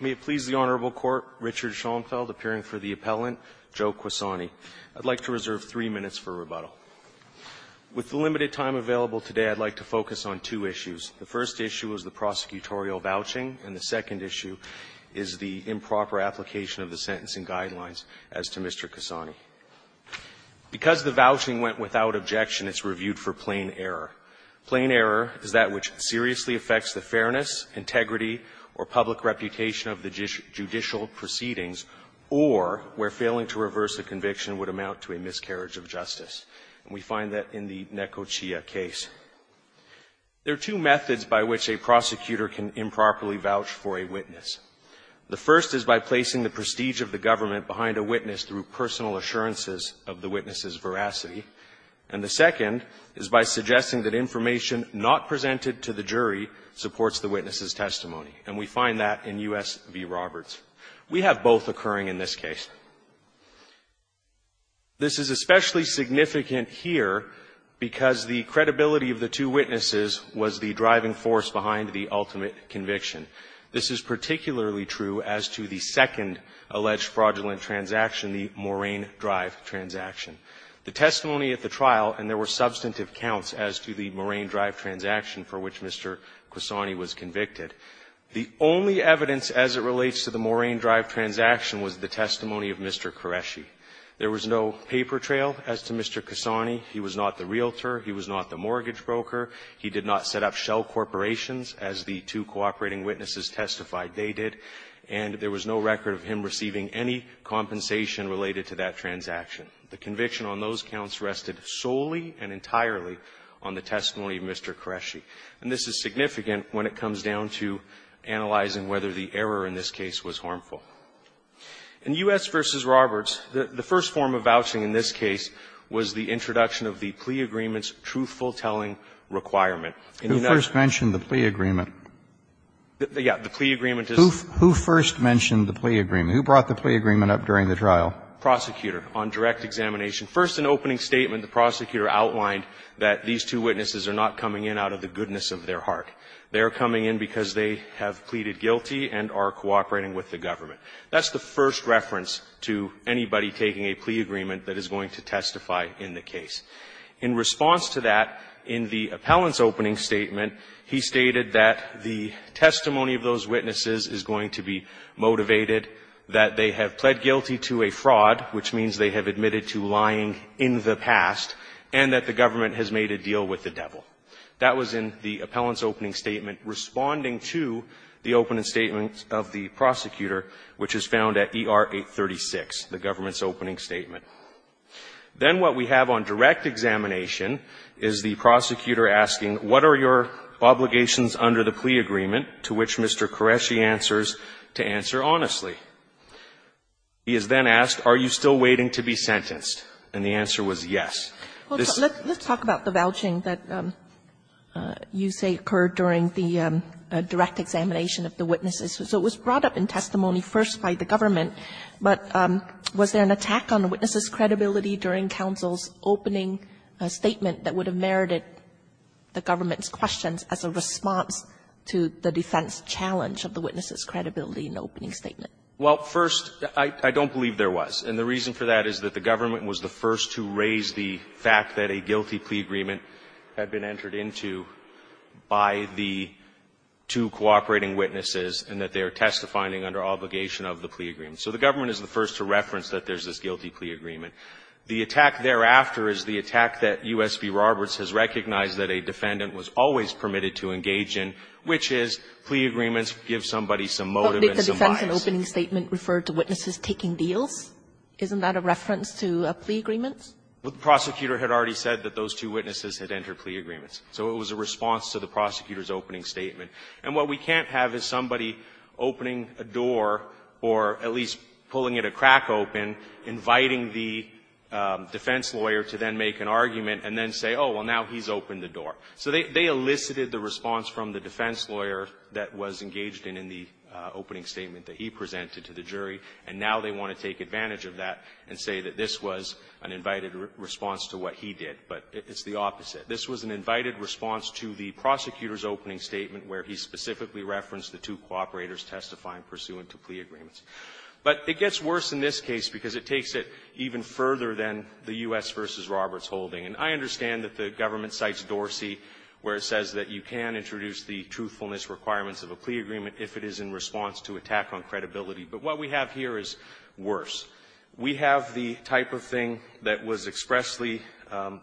May it please the Honorable Court, Richard Schoenfeld appearing for the appellant, Joe Quassani. I'd like to reserve three minutes for rebuttal. With the limited time available today, I'd like to focus on two issues. The first issue is the prosecutorial vouching, and the second issue is the improper application of the sentencing guidelines as to Mr. Quassani. Because the vouching went without objection, it's reviewed for plain error. Plain error is that which seriously affects the fairness, integrity, or public reputation of the judicial proceedings, or where failing to reverse a conviction would amount to a miscarriage of justice. And we find that in the Neko Chia case. There are two methods by which a prosecutor can improperly vouch for a witness. The first is by placing the prestige of the government behind a witness through personal assurances of the witness's veracity. And the second is by suggesting that information not presented to the jury supports the witness's testimony. And we find that in U.S. v. Roberts. We have both occurring in this case. This is especially significant here because the credibility of the two witnesses was the driving force behind the ultimate conviction. This is particularly true as to the second alleged fraudulent transaction, the Moraine Drive transaction. The testimony at the trial, and there were substantive counts as to the Moraine Drive transaction for which Mr. Quassani was convicted, the only evidence as it relates to the Moraine Drive transaction was the testimony of Mr. Qureshi. There was no paper trail as to Mr. Quassani. He was not the realtor. He was not the mortgage broker. He did not set up shell corporations, as the two cooperating witnesses testified they did. And there was no record of him receiving any compensation related to that transaction. The conviction on those counts rested solely and entirely on the testimony of Mr. Qureshi. And this is significant when it comes down to analyzing whether the error in this case was harmful. In U.S. v. Roberts, the first form of vouching in this case was the introduction of the plea agreement's truthful telling requirement. In the United States the plea agreement is the first form of vouching in this case. Kennedy. Who first mentioned the plea agreement? Who brought the plea agreement up during the trial? Prosecutor, on direct examination. First, in opening statement, the prosecutor outlined that these two witnesses are not coming in out of the goodness of their heart. They are coming in because they have pleaded guilty and are cooperating with the government. That's the first reference to anybody taking a plea agreement that is going to testify in the case. In response to that, in the appellant's opening statement, he stated that the testimony which means they have admitted to lying in the past, and that the government has made a deal with the devil. That was in the appellant's opening statement, responding to the opening statement of the prosecutor, which is found at ER 836, the government's opening statement. Then what we have on direct examination is the prosecutor asking, what are your obligations under the plea agreement, to which Mr. Qureshi answers, to answer honestly. He is then asked, are you still waiting to be sentenced? And the answer was yes. This is the case. Kagan. Let's talk about the vouching that you say occurred during the direct examination of the witnesses. So it was brought up in testimony first by the government, but was there an attack on the witness's credibility during counsel's opening statement that would have merited the government's questions as a response to the defense challenge of the witness's Well, first, I don't believe there was. And the reason for that is that the government was the first to raise the fact that a guilty plea agreement had been entered into by the two cooperating witnesses and that they are testifying under obligation of the plea agreement. So the government is the first to reference that there is this guilty plea agreement. The attack thereafter is the attack that U.S. v. Roberts has recognized that a defendant was always permitted to engage in, which is plea agreements give somebody some motive and some bias. So why is an opening statement referred to witnesses taking deals? Isn't that a reference to a plea agreement? Well, the prosecutor had already said that those two witnesses had entered plea agreements. So it was a response to the prosecutor's opening statement. And what we can't have is somebody opening a door or at least pulling it a crack open, inviting the defense lawyer to then make an argument and then say, oh, well, now he's opened the door. So they elicited the response from the defense lawyer that was engaged in in the opening statement that he presented to the jury, and now they want to take advantage of that and say that this was an invited response to what he did, but it's the opposite. This was an invited response to the prosecutor's opening statement where he specifically referenced the two cooperators testifying pursuant to plea agreements. But it gets worse in this case because it takes it even further than the U.S. v. Roberts holding. And I understand that the government cites Dorsey, where it says that you can introduce the truthfulness requirements of a plea agreement if it is in response to attack on credibility. But what we have here is worse. We have the type of thing that was expressly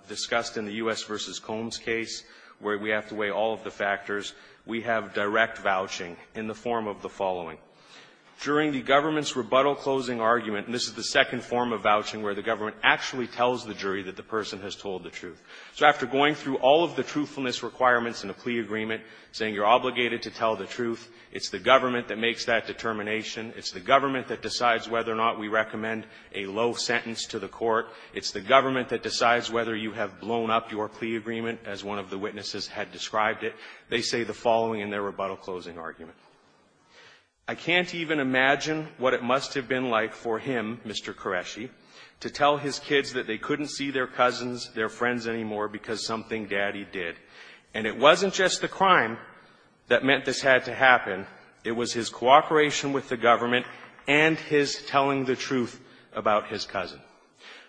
discussed in the U.S. v. Combs case, where we have to weigh all of the factors. We have direct vouching in the form of the following. During the government's rebuttal closing argument, and this is the second form of vouching where the government actually tells the jury that the person has told the truth. So after going through all of the truthfulness requirements in a plea agreement, saying you're obligated to tell the truth, it's the government that makes that determination, it's the government that decides whether or not we recommend a low sentence to the court, it's the government that decides whether you have blown up your plea agreement, as one of the witnesses had described it, they say the following in their rebuttal closing argument. I can't even imagine what it must have been like for him, Mr. Qureshi, to tell his kids that they couldn't see their cousins, their friends anymore because something daddy did. And it wasn't just the crime that meant this had to happen. It was his cooperation with the government and his telling the truth about his cousin.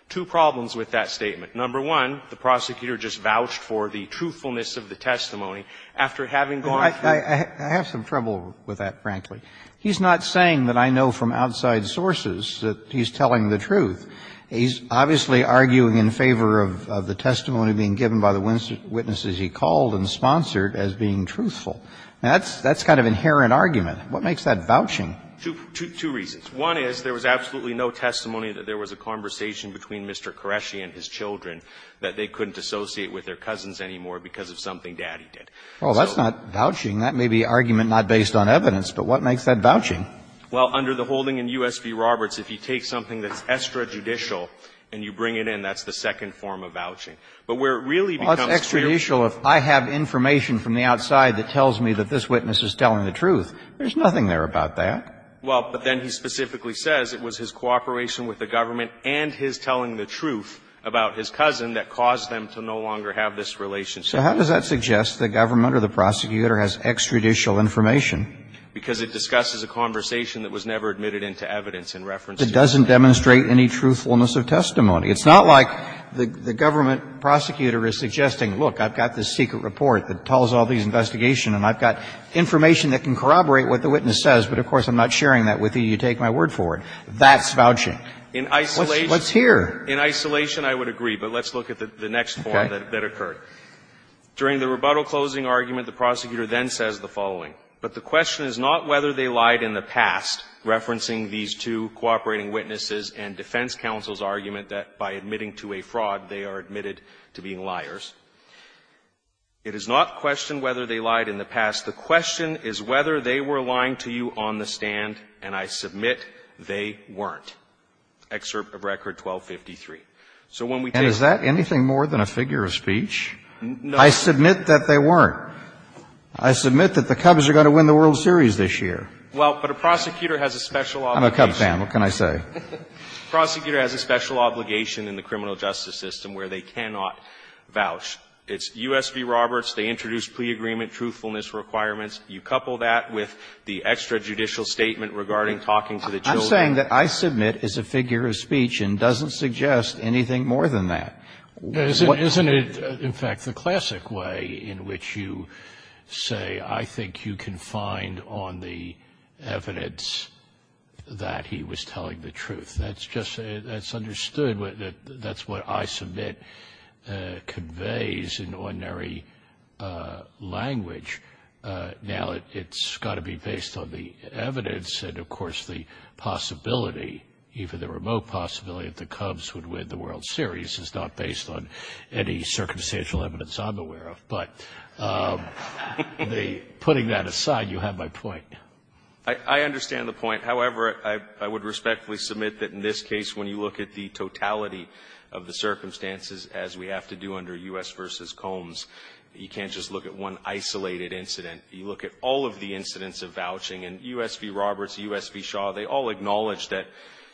Two problems with that statement. Number one, the prosecutor just vouched for the truthfulness of the testimony after having gone through the court. With that, frankly, he's not saying that I know from outside sources that he's telling the truth. He's obviously arguing in favor of the testimony being given by the witnesses he called and sponsored as being truthful. Now, that's kind of inherent argument. What makes that vouching? Two reasons. One is there was absolutely no testimony that there was a conversation between Mr. Qureshi and his children that they couldn't associate with their cousins anymore because of something daddy did. Well, that's not vouching. That may be argument not based on evidence, but what makes that vouching? Well, under the holding in U.S. v. Roberts, if you take something that's extrajudicial and you bring it in, that's the second form of vouching. But where it really becomes clear to me If I have information from the outside that tells me that this witness is telling the truth, there's nothing there about that. Well, but then he specifically says it was his cooperation with the government and his telling the truth about his cousin that caused them to no longer have this relationship. So how does that suggest the government or the prosecutor has extrajudicial information? Because it discusses a conversation that was never admitted into evidence in reference to the government. It doesn't demonstrate any truthfulness of testimony. It's not like the government prosecutor is suggesting, look, I've got this secret report that tells all these investigations and I've got information that can corroborate what the witness says, but of course I'm not sharing that with you. You take my word for it. That's vouching. In isolation. What's here? In isolation, I would agree, but let's look at the next form that occurred. During the rebuttal closing argument, the prosecutor then says the following. But the question is not whether they lied in the past, referencing these two cooperating witnesses and defense counsel's argument that by admitting to a fraud, they are admitted to being liars. It is not questioned whether they lied in the past. The question is whether they were lying to you on the stand, and I submit they weren't. Excerpt of Record 1253. So when we take a look at the next form, and I'm going to read it to you, and I'm going to read it to you, I submit that they weren't. I submit that the Cubs are going to win the World Series this year. Well, but a prosecutor has a special obligation. I'm a Cub fan. What can I say? A prosecutor has a special obligation in the criminal justice system where they cannot vouch. It's U.S. v. Roberts, they introduced plea agreement, truthfulness requirements. You couple that with the extrajudicial statement regarding talking to the children. I'm saying that I submit is a figure of speech and doesn't suggest anything more than that. Isn't it, in fact, the classic way in which you say, I think you can find on the evidence that he was telling the truth. That's just, that's understood, that's what I submit conveys in ordinary language. Now, it's got to be based on the evidence. And, of course, the possibility, even the remote possibility that the Cubs would win the World Series is not based on any circumstantial evidence I'm aware of. But the, putting that aside, you have my point. I understand the point. However, I would respectfully submit that in this case, when you look at the totality of the circumstances, as we have to do under U.S. v. Combs, you can't just look at one isolated incident. You look at all of the incidents of vouching and U.S. v. Roberts, U.S. v. Shaw. They all acknowledge that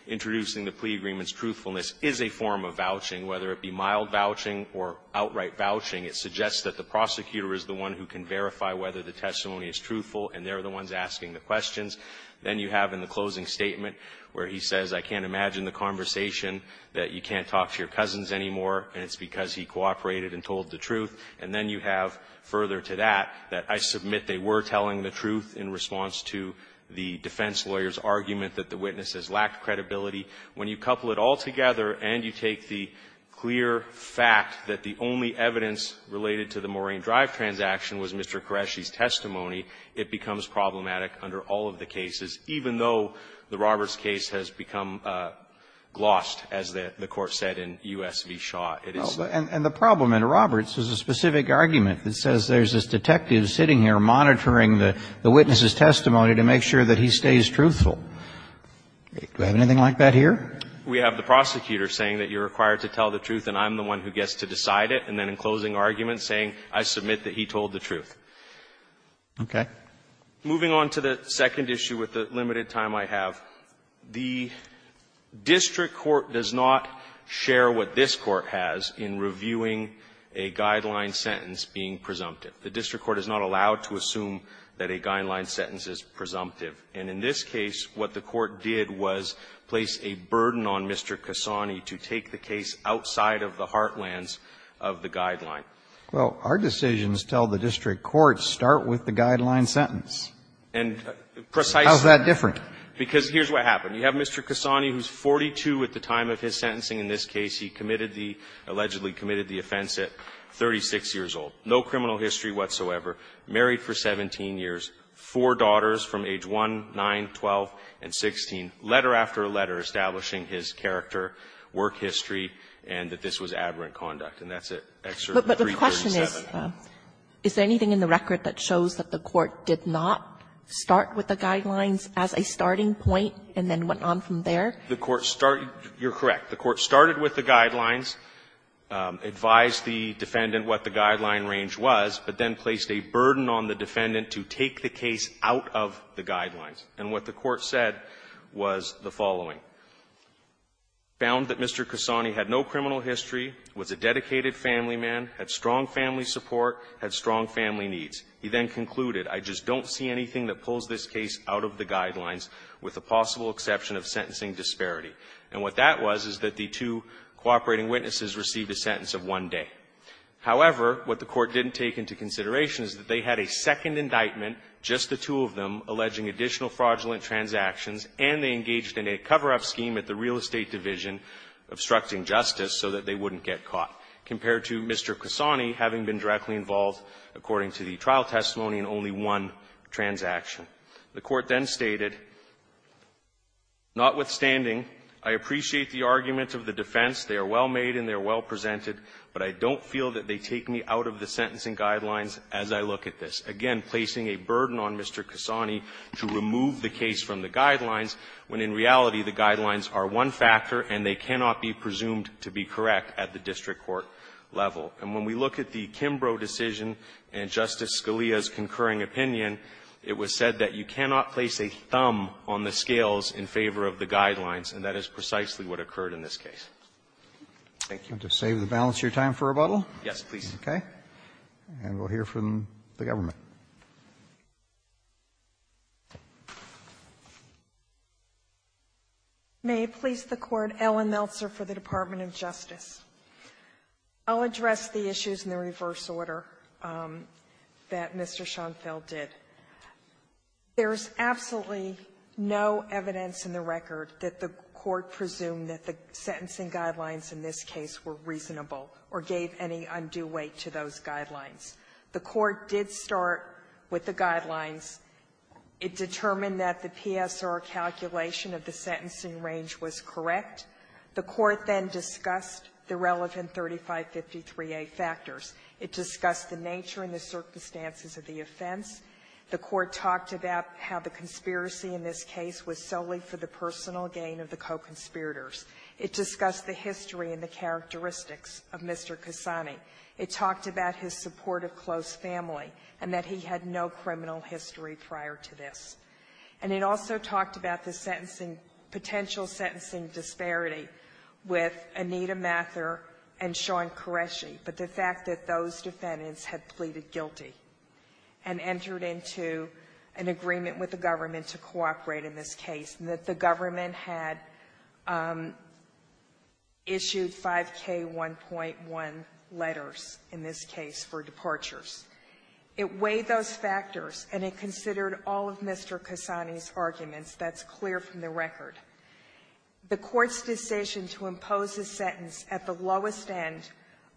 introducing the plea agreement's truthfulness is a form of vouching, whether it be mild vouching or outright vouching. It suggests that the prosecutor is the one who can verify whether the testimony is truthful, and they're the ones asking the questions. Then you have in the closing statement where he says, I can't imagine the conversation that you can't talk to your cousins anymore, and it's because he cooperated and told the truth. And then you have, further to that, that I submit they were telling the truth in response to the defense lawyer's argument that the witness has lacked credibility. When you couple it all together and you take the clear fact that the only evidence related to the Moraine Drive transaction was Mr. Qureshi's testimony, it becomes problematic under all of the cases, even though the Roberts case has become glossed, as the Court said in U.S. v. Shaw. It is the same. And the problem in Roberts is a specific argument that says there's this detective sitting here monitoring the witness's testimony to make sure that he stays truthful. Do we have anything like that here? We have the prosecutor saying that you're required to tell the truth and I'm the one who gets to decide it, and then in closing argument saying, I submit that he told the truth. Okay. Moving on to the second issue with the limited time I have, the district court does not share what this Court has in reviewing a guideline sentence being presumptive. The district court is not allowed to assume that a guideline sentence is presumptive. And in this case, what the court did was place a burden on Mr. Cassani to take the case outside of the heartlands of the guideline. Well, our decisions tell the district court, start with the guideline sentence. And precisely How's that different? Because here's what happened. You have Mr. Cassani, who's 42 at the time of his sentencing. In this case, he committed the – allegedly committed the offense at 36 years old. No criminal history whatsoever. Married for 17 years. Four daughters from age 1, 9, 12, and 16, letter after letter, establishing his character, work history, and that this was aberrant conduct. And that's at Excerpt 337. But the question is, is there anything in the record that shows that the court did not start with the guidelines as a starting point and then went on from there? The court started – you're correct. The court started with the guidelines, advised the defendant what the guideline range was, but then placed a burden on the defendant to take the case out of the guidelines. And what the court said was the following. Found that Mr. Cassani had no criminal history, was a dedicated family man, had strong family support, had strong family needs. He then concluded, I just don't see anything that pulls this case out of the guidelines with the possible exception of sentencing disparity. And what that was is that the two cooperating witnesses received a sentence of one day. However, what the court didn't take into consideration is that they had a second indictment, just the two of them, alleging additional fraudulent transactions, and they engaged in a cover-up scheme at the real estate division obstructing justice so that they wouldn't get caught, compared to Mr. Cassani having been directly involved, according to the trial testimony, in only one transaction. The court then stated, notwithstanding, I appreciate the argument of the defense. They are well made and they are well presented, but I don't feel that they take me out of the sentencing guidelines as I look at this. Again, placing a burden on Mr. Cassani to remove the case from the guidelines when, in reality, the guidelines are one factor and they cannot be presumed to be correct at the district court level. And when we look at the Kimbrough decision and Justice Scalia's concurring opinion, it was said that you cannot place a thumb on the scales in favor of the And to save the balance of your time for rebuttal? Yes, please. Okay. And we'll hear from the government. May it please the Court, Ellen Meltzer for the Department of Justice. I'll address the issues in the reverse order that Mr. Schoenfeld did. There is absolutely no evidence in the record that the court presumed that the sentencing guidelines in this case were reasonable or gave any undue weight to those guidelines. The court did start with the guidelines. It determined that the PSR calculation of the sentencing range was correct. The court then discussed the relevant 3553A factors. It discussed the nature and the circumstances of the offense. The court talked about how the conspiracy in this case was solely for the personal gain of the co-conspirators. It discussed the history and the characteristics of Mr. Kasani. It talked about his support of close family and that he had no criminal history prior to this. And it also talked about the potential sentencing disparity with Anita Mather and Sean Qureshi, but the fact that those defendants had pleaded guilty and entered into an agreement with the government to cooperate in this case. And that the government had issued 5K1.1 letters in this case for departures. It weighed those factors and it considered all of Mr. Kasani's arguments. That's clear from the record. The court's decision to impose a sentence at the lowest end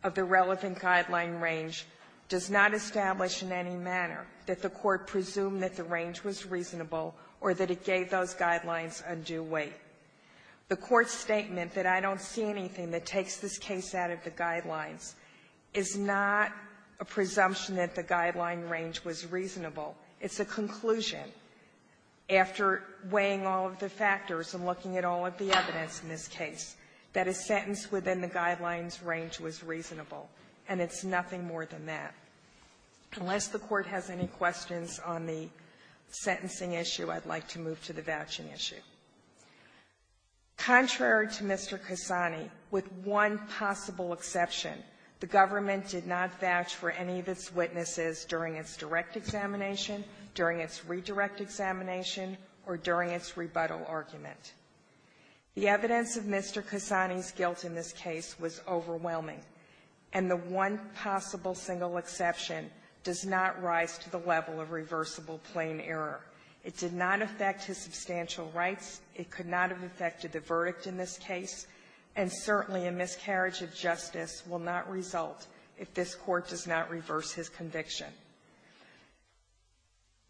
of the relevant guideline range does not establish in any manner that the court presumed that the guidelines undue weight. The court's statement that I don't see anything that takes this case out of the guidelines is not a presumption that the guideline range was reasonable. It's a conclusion, after weighing all of the factors and looking at all of the evidence in this case, that a sentence within the guidelines range was reasonable, and it's nothing more than that. Unless the court has any questions on the sentencing issue, I'd like to move to the government's vouching issue. Contrary to Mr. Kasani, with one possible exception, the government did not vouch for any of its witnesses during its direct examination, during its redirect examination, or during its rebuttal argument. The evidence of Mr. Kasani's guilt in this case was overwhelming, and the one possible single exception does not rise to the level of reversible plain error. It did not affect his substantial rights. It could not have affected the verdict in this case. And certainly, a miscarriage of justice will not result if this Court does not reverse his conviction.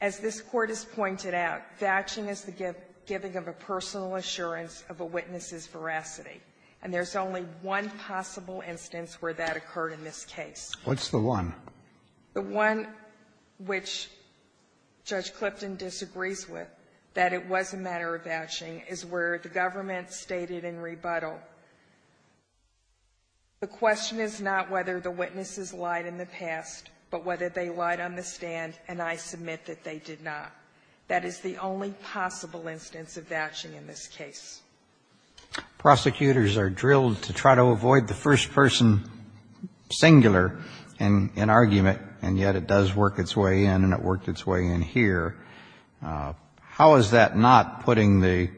As this Court has pointed out, vouching is the giving of a personal assurance of a witness's veracity, and there's only one possible instance where that occurred in this case. What's the one? The one which Judge Clipton disagrees with, that it was a matter of vouching, is where the government stated in rebuttal, the question is not whether the witnesses lied in the past, but whether they lied on the stand, and I submit that they did not. That is the only possible instance of vouching in this case. Prosecutors are drilled to try to avoid the first-person singular in argument, and yet it does work its way in, and it worked its way in here. How is that not putting the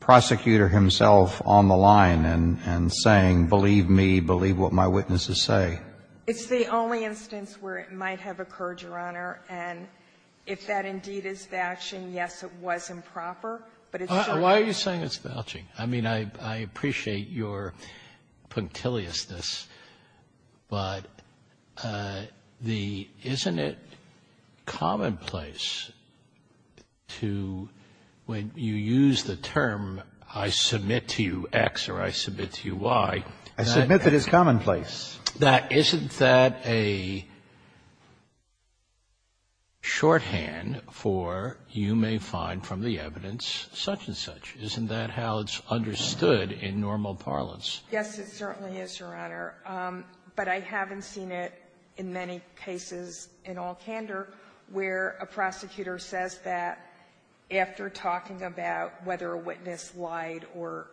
prosecutor himself on the line and saying, believe me, believe what my witnesses say? It's the only instance where it might have occurred, Your Honor, and if that indeed is vouching, yes, it was improper, but it's certainly not. Why are you saying it's vouching? I mean, I appreciate your punctiliousness, but the isn't it commonplace to when you use the term, I submit to you X or I submit to you Y. I submit that it's commonplace. Isn't that a shorthand for you may find from the evidence such and such, that the evidence is such and such, isn't that how it's understood in normal parlance? Yes, it certainly is, Your Honor, but I haven't seen it in many cases in all candor where a prosecutor says that after talking about whether a witness lied or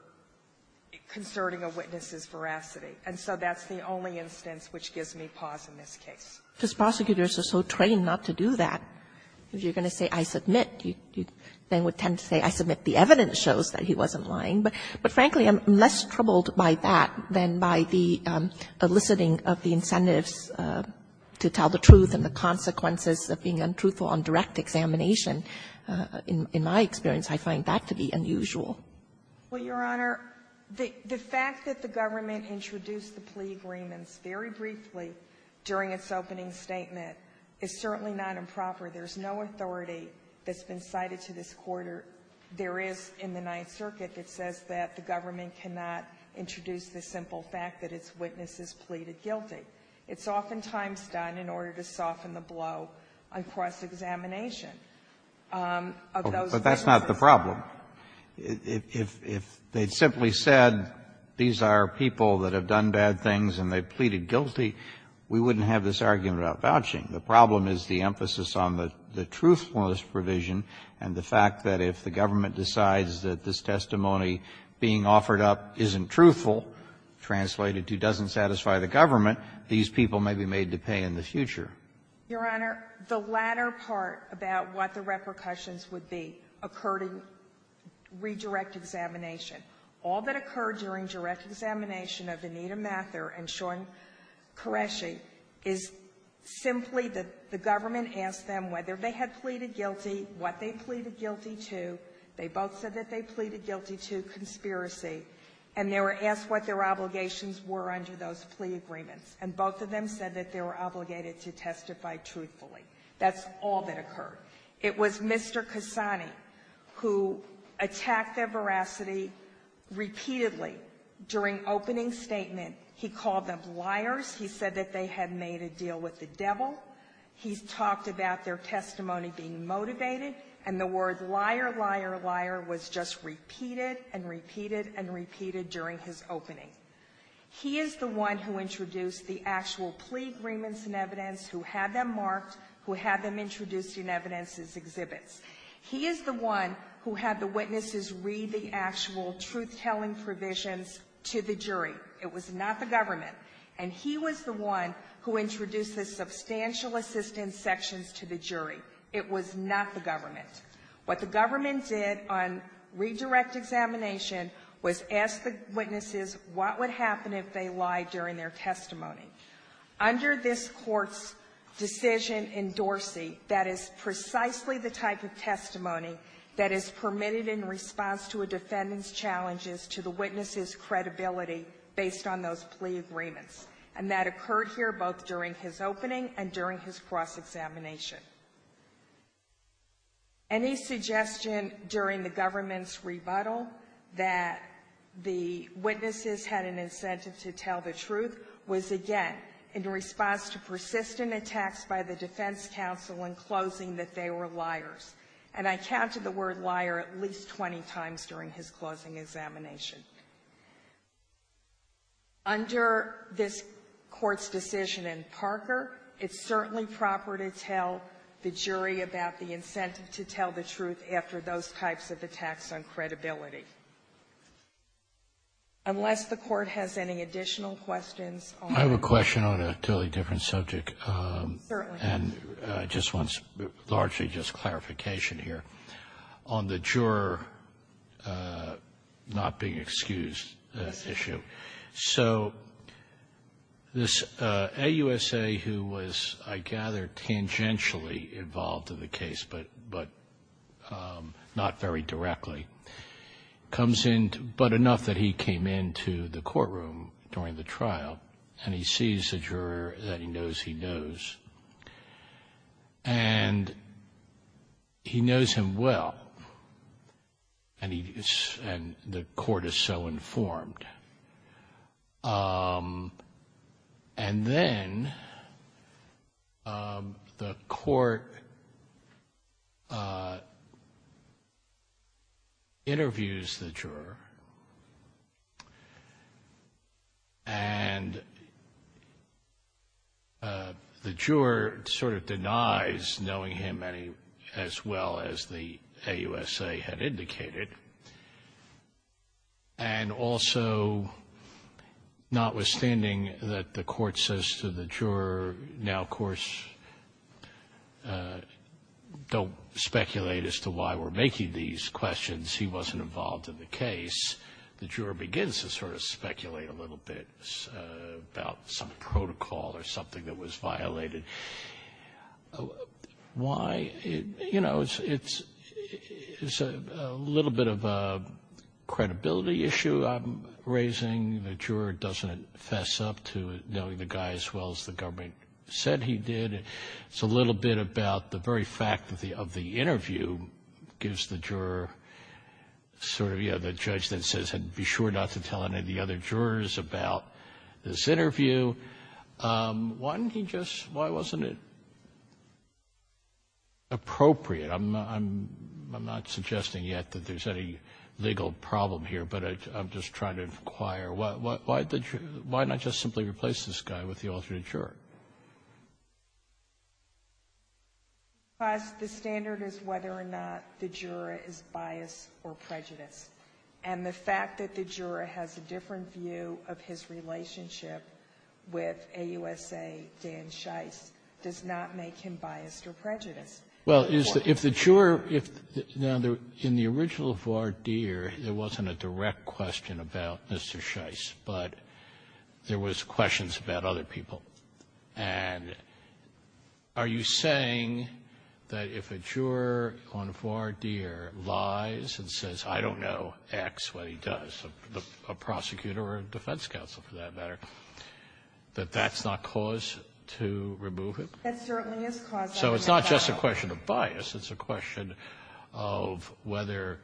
concerning a witness's veracity. And so that's the only instance which gives me pause in this case. Because prosecutors are so trained not to do that. If you're going to say I submit, you then would tend to say I submit the evidence shows that he wasn't lying. But frankly, I'm less troubled by that than by the eliciting of the incentives to tell the truth and the consequences of being untruthful on direct examination. In my experience, I find that to be unusual. Well, Your Honor, the fact that the government introduced the plea agreements very briefly during its opening statement is certainly not improper. There's no authority that's been cited to this quarter. There is in the Ninth Circuit that says that the government cannot introduce the simple fact that its witnesses pleaded guilty. It's oftentimes done in order to soften the blow on cross-examination of those witnesses. But that's not the problem. If they'd simply said these are people that have done bad things and they've pleaded guilty, we wouldn't have this argument about vouching. The problem is the emphasis on the truthfulness provision and the fact that if the government decides that this testimony being offered up isn't truthful, translated to doesn't satisfy the government, these people may be made to pay in the future. Your Honor, the latter part about what the repercussions would be occurred in redirect examination. All that occurred during direct examination of Anita Mather and Sean Qureshi is simply that the government asked them whether they had pleaded guilty, what they pleaded guilty to. They both said that they pleaded guilty to conspiracy, and they were asked what their obligations were under those plea agreements. And both of them said that they were obligated to testify truthfully. That's all that occurred. It was Mr. Quesani who attacked their veracity repeatedly. During opening statement, he called them liars. He said that they had made a deal with the devil. He's talked about their testimony being motivated. And the word liar, liar, liar was just repeated and repeated and repeated during his opening. He is the one who introduced the actual plea agreements and evidence, who had them marked, who had them introduced in evidence as exhibits. He is the one who had the witnesses read the actual truth-telling provisions to the jury. It was not the government. And he was the one who introduced the substantial assistance sections to the jury. It was not the government. What the government did on redirect examination was ask the witnesses what would happen if they lied during their testimony. Under this Court's decision in Dorsey, that is precisely the type of testimony that is permitted in response to a defendant's challenges to the witness's credibility based on those plea agreements. And that occurred here both during his opening and during his cross-examination. Any suggestion during the government's rebuttal that the witnesses had an incentive to tell the truth was, again, in response to persistent attacks by the defense counsel in closing that they were liars. And I counted the word liar at least 20 times during his closing examination. Under this Court's decision in Parker, it's certainly proper to tell the witnesses or the jury about the incentive to tell the truth after those types of attacks on credibility. Unless the Court has any additional questions on the juror not being excused issue. I have a question on a totally different subject, and I just want largely just clarification here on the juror not being excused issue. So this AUSA who was, I gather, tangentially involved in the case, but not very directly, comes in, but enough that he came into the courtroom during the trial, and he sees the juror that he knows he knows, and he knows him well, and the Court is so sure that he knows him well, and then the Court interviews the juror, and the juror sort of denies knowing him as well as the AUSA had indicated, and also, notwithstanding that the Court says to the juror, now, of course, don't speculate as to why we're making these questions, he wasn't involved in the case, the juror begins to sort of speculate a little bit about some protocol or something that was violated. Why? You know, it's a little bit of a credibility issue I'm raising. The juror doesn't fess up to knowing the guy as well as the government said he did. It's a little bit about the very fact of the interview gives the juror sort of, you know, the judge that says, be sure not to tell any of the other jurors about this interview. Why didn't he just, why wasn't it appropriate? I'm not suggesting yet that there's any legal problem here, but I'm just trying to inquire why the juror, why not just simply replace this guy with the alternate juror? The standard is whether or not the juror is biased or prejudiced. And the fact that the juror has a different view of his relationship with AUSA Dan Scheiss does not make him biased or prejudiced. Well, if the juror, now, in the original voir dire, there wasn't a direct question about Mr. Scheiss, but there was questions about other people. And are you saying that if a juror on voir dire lies and says, I don't know X what he does, a prosecutor or a defense counsel for that matter, that that's not cause to remove him? That certainly is cause to remove him. So it's not just a question of bias. It's a question of whether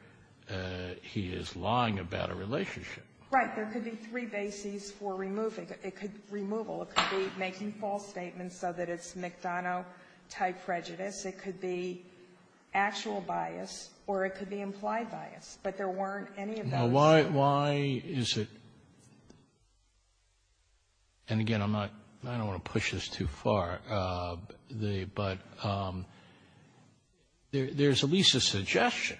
he is lying about a relationship. Right. There could be three bases for removing it. It could be removal. It could be making false statements so that it's McDonough type prejudice. It could be actual bias or it could be implied bias, but there weren't any of those. Why is it, and again, I'm not, I don't want to push this too far. But there's at least a suggestion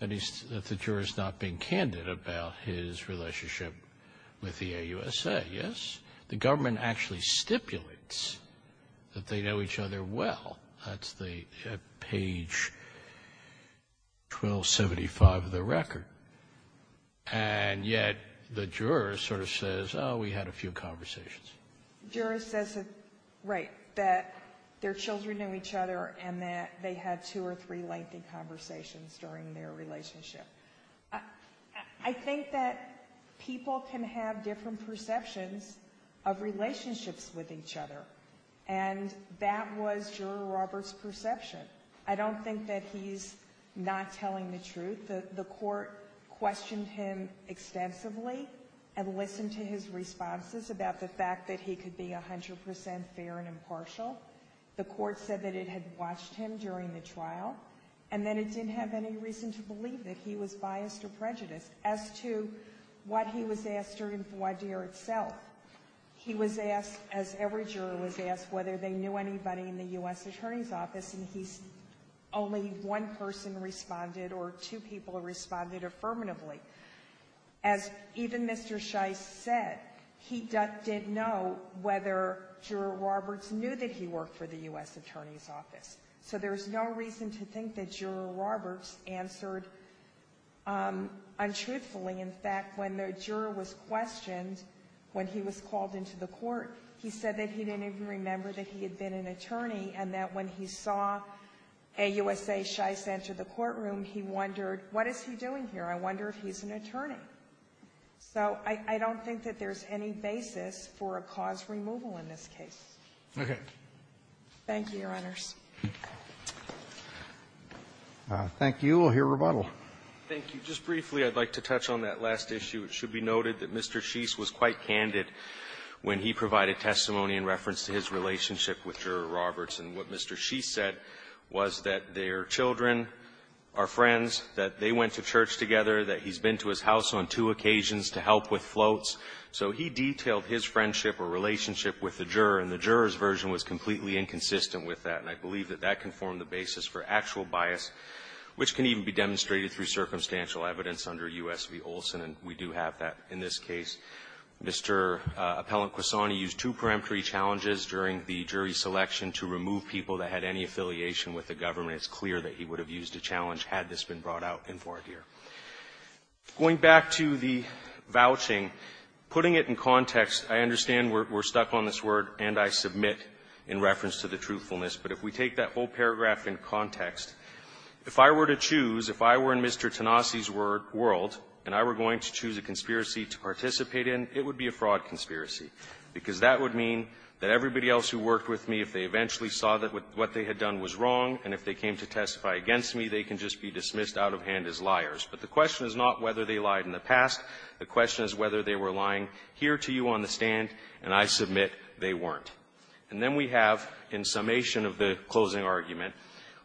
that the juror's not being candid about his relationship with the AUSA. Yes, the government actually stipulates that they know each other well. That's the page 1275 of the record. And yet the juror sort of says, oh, we had a few conversations. Juror says that, right, that their children know each other and that they had two or three lengthy conversations during their relationship. I think that people can have different perceptions of relationships with each other. And that was Juror Roberts' perception. I don't think that he's not telling the truth. The court questioned him extensively and listened to his responses about the fact that he could be 100% fair and impartial. The court said that it had watched him during the trial, and then it didn't have any reason to believe that he was biased or prejudiced. As to what he was asked during the voir dire itself, he was asked, as every juror was asked, whether they knew anybody in the U.S. Attorney's Office, and he's, only one person responded or two people responded affirmatively. As even Mr. Shice said, he didn't know whether Juror Roberts knew that he worked for the U.S. Attorney's Office. So there's no reason to think that Juror Roberts answered untruthfully. In fact, when the juror was questioned, when he was called into the court, he said that he didn't even remember that he had been an attorney, and that when he saw AUSA Shice enter the courtroom, he wondered, what is he doing here? I wonder if he's an attorney. So I don't think that there's any basis for a cause removal in this case. Okay. Thank you, Your Honors. Thank you. We'll hear rebuttal. Thank you. Just briefly, I'd like to touch on that last issue. It should be noted that Mr. Shice was quite candid when he provided testimony in reference to his relationship with Juror Roberts, and what Mr. Shice said was that their children are friends, that they went to church together, that he's been to his house on two occasions to help with floats. So he detailed his friendship or relationship with the juror, and the juror's version was completely inconsistent with that. And I believe that that can form the basis for actual bias, which can even be demonstrated through circumstantial evidence under U.S. v. Olson, and we do have that in this case. Mr. Appellant Quesani used two peremptory challenges during the jury selection to remove people that had any affiliation with the government. It's clear that he would have used a challenge had this been brought out in Fort Deer. Going back to the vouching, putting it in context, I understand we're stuck on this word, and I submit in reference to the truthfulness, but if we take that whole paragraph in context, if I were to choose, if I were in Mr. Tenassi's world, and I were going to choose a conspiracy to participate in, it would be a fraud conspiracy, because that would mean that everybody else who worked with me, if they eventually saw that what they had done was wrong, and if they came to testify against me, they can just be dismissed out of hand as liars. But the question is not whether they lied in the past. The question is whether they were lying here to you on the stand, and I submit they weren't. And then we have, in summation of the closing argument,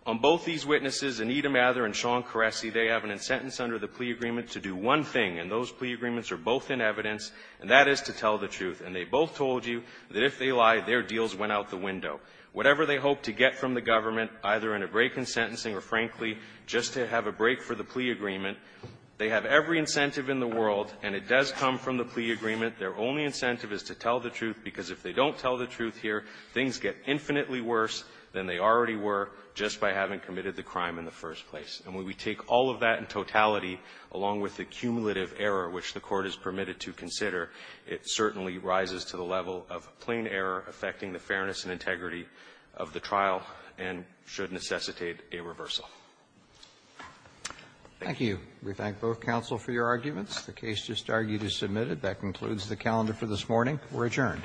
on both these witnesses, Anita Mather and Sean Caressi, they have an insentence under the plea agreement to do one thing, and those plea agreements are both in evidence, and that is to tell the truth. And they both told you that if they lied, their deals went out the window. Whatever they hope to get from the government, either in a break in sentencing or, frankly, just to have a break for the plea agreement, they have every incentive in the world, and it does come from the plea agreement. Their only incentive is to tell the truth, because if they don't tell the truth here, things get infinitely worse than they already were just by having committed the crime in the first place. And when we take all of that in totality, along with the cumulative error which the Court has permitted to consider, it certainly rises to the level of plain error affecting the fairness and integrity of the trial and should necessitate a reversal. Roberts. Thank you. We thank both counsel for your arguments. The case just argued is submitted. That concludes the calendar for this morning. We're adjourned.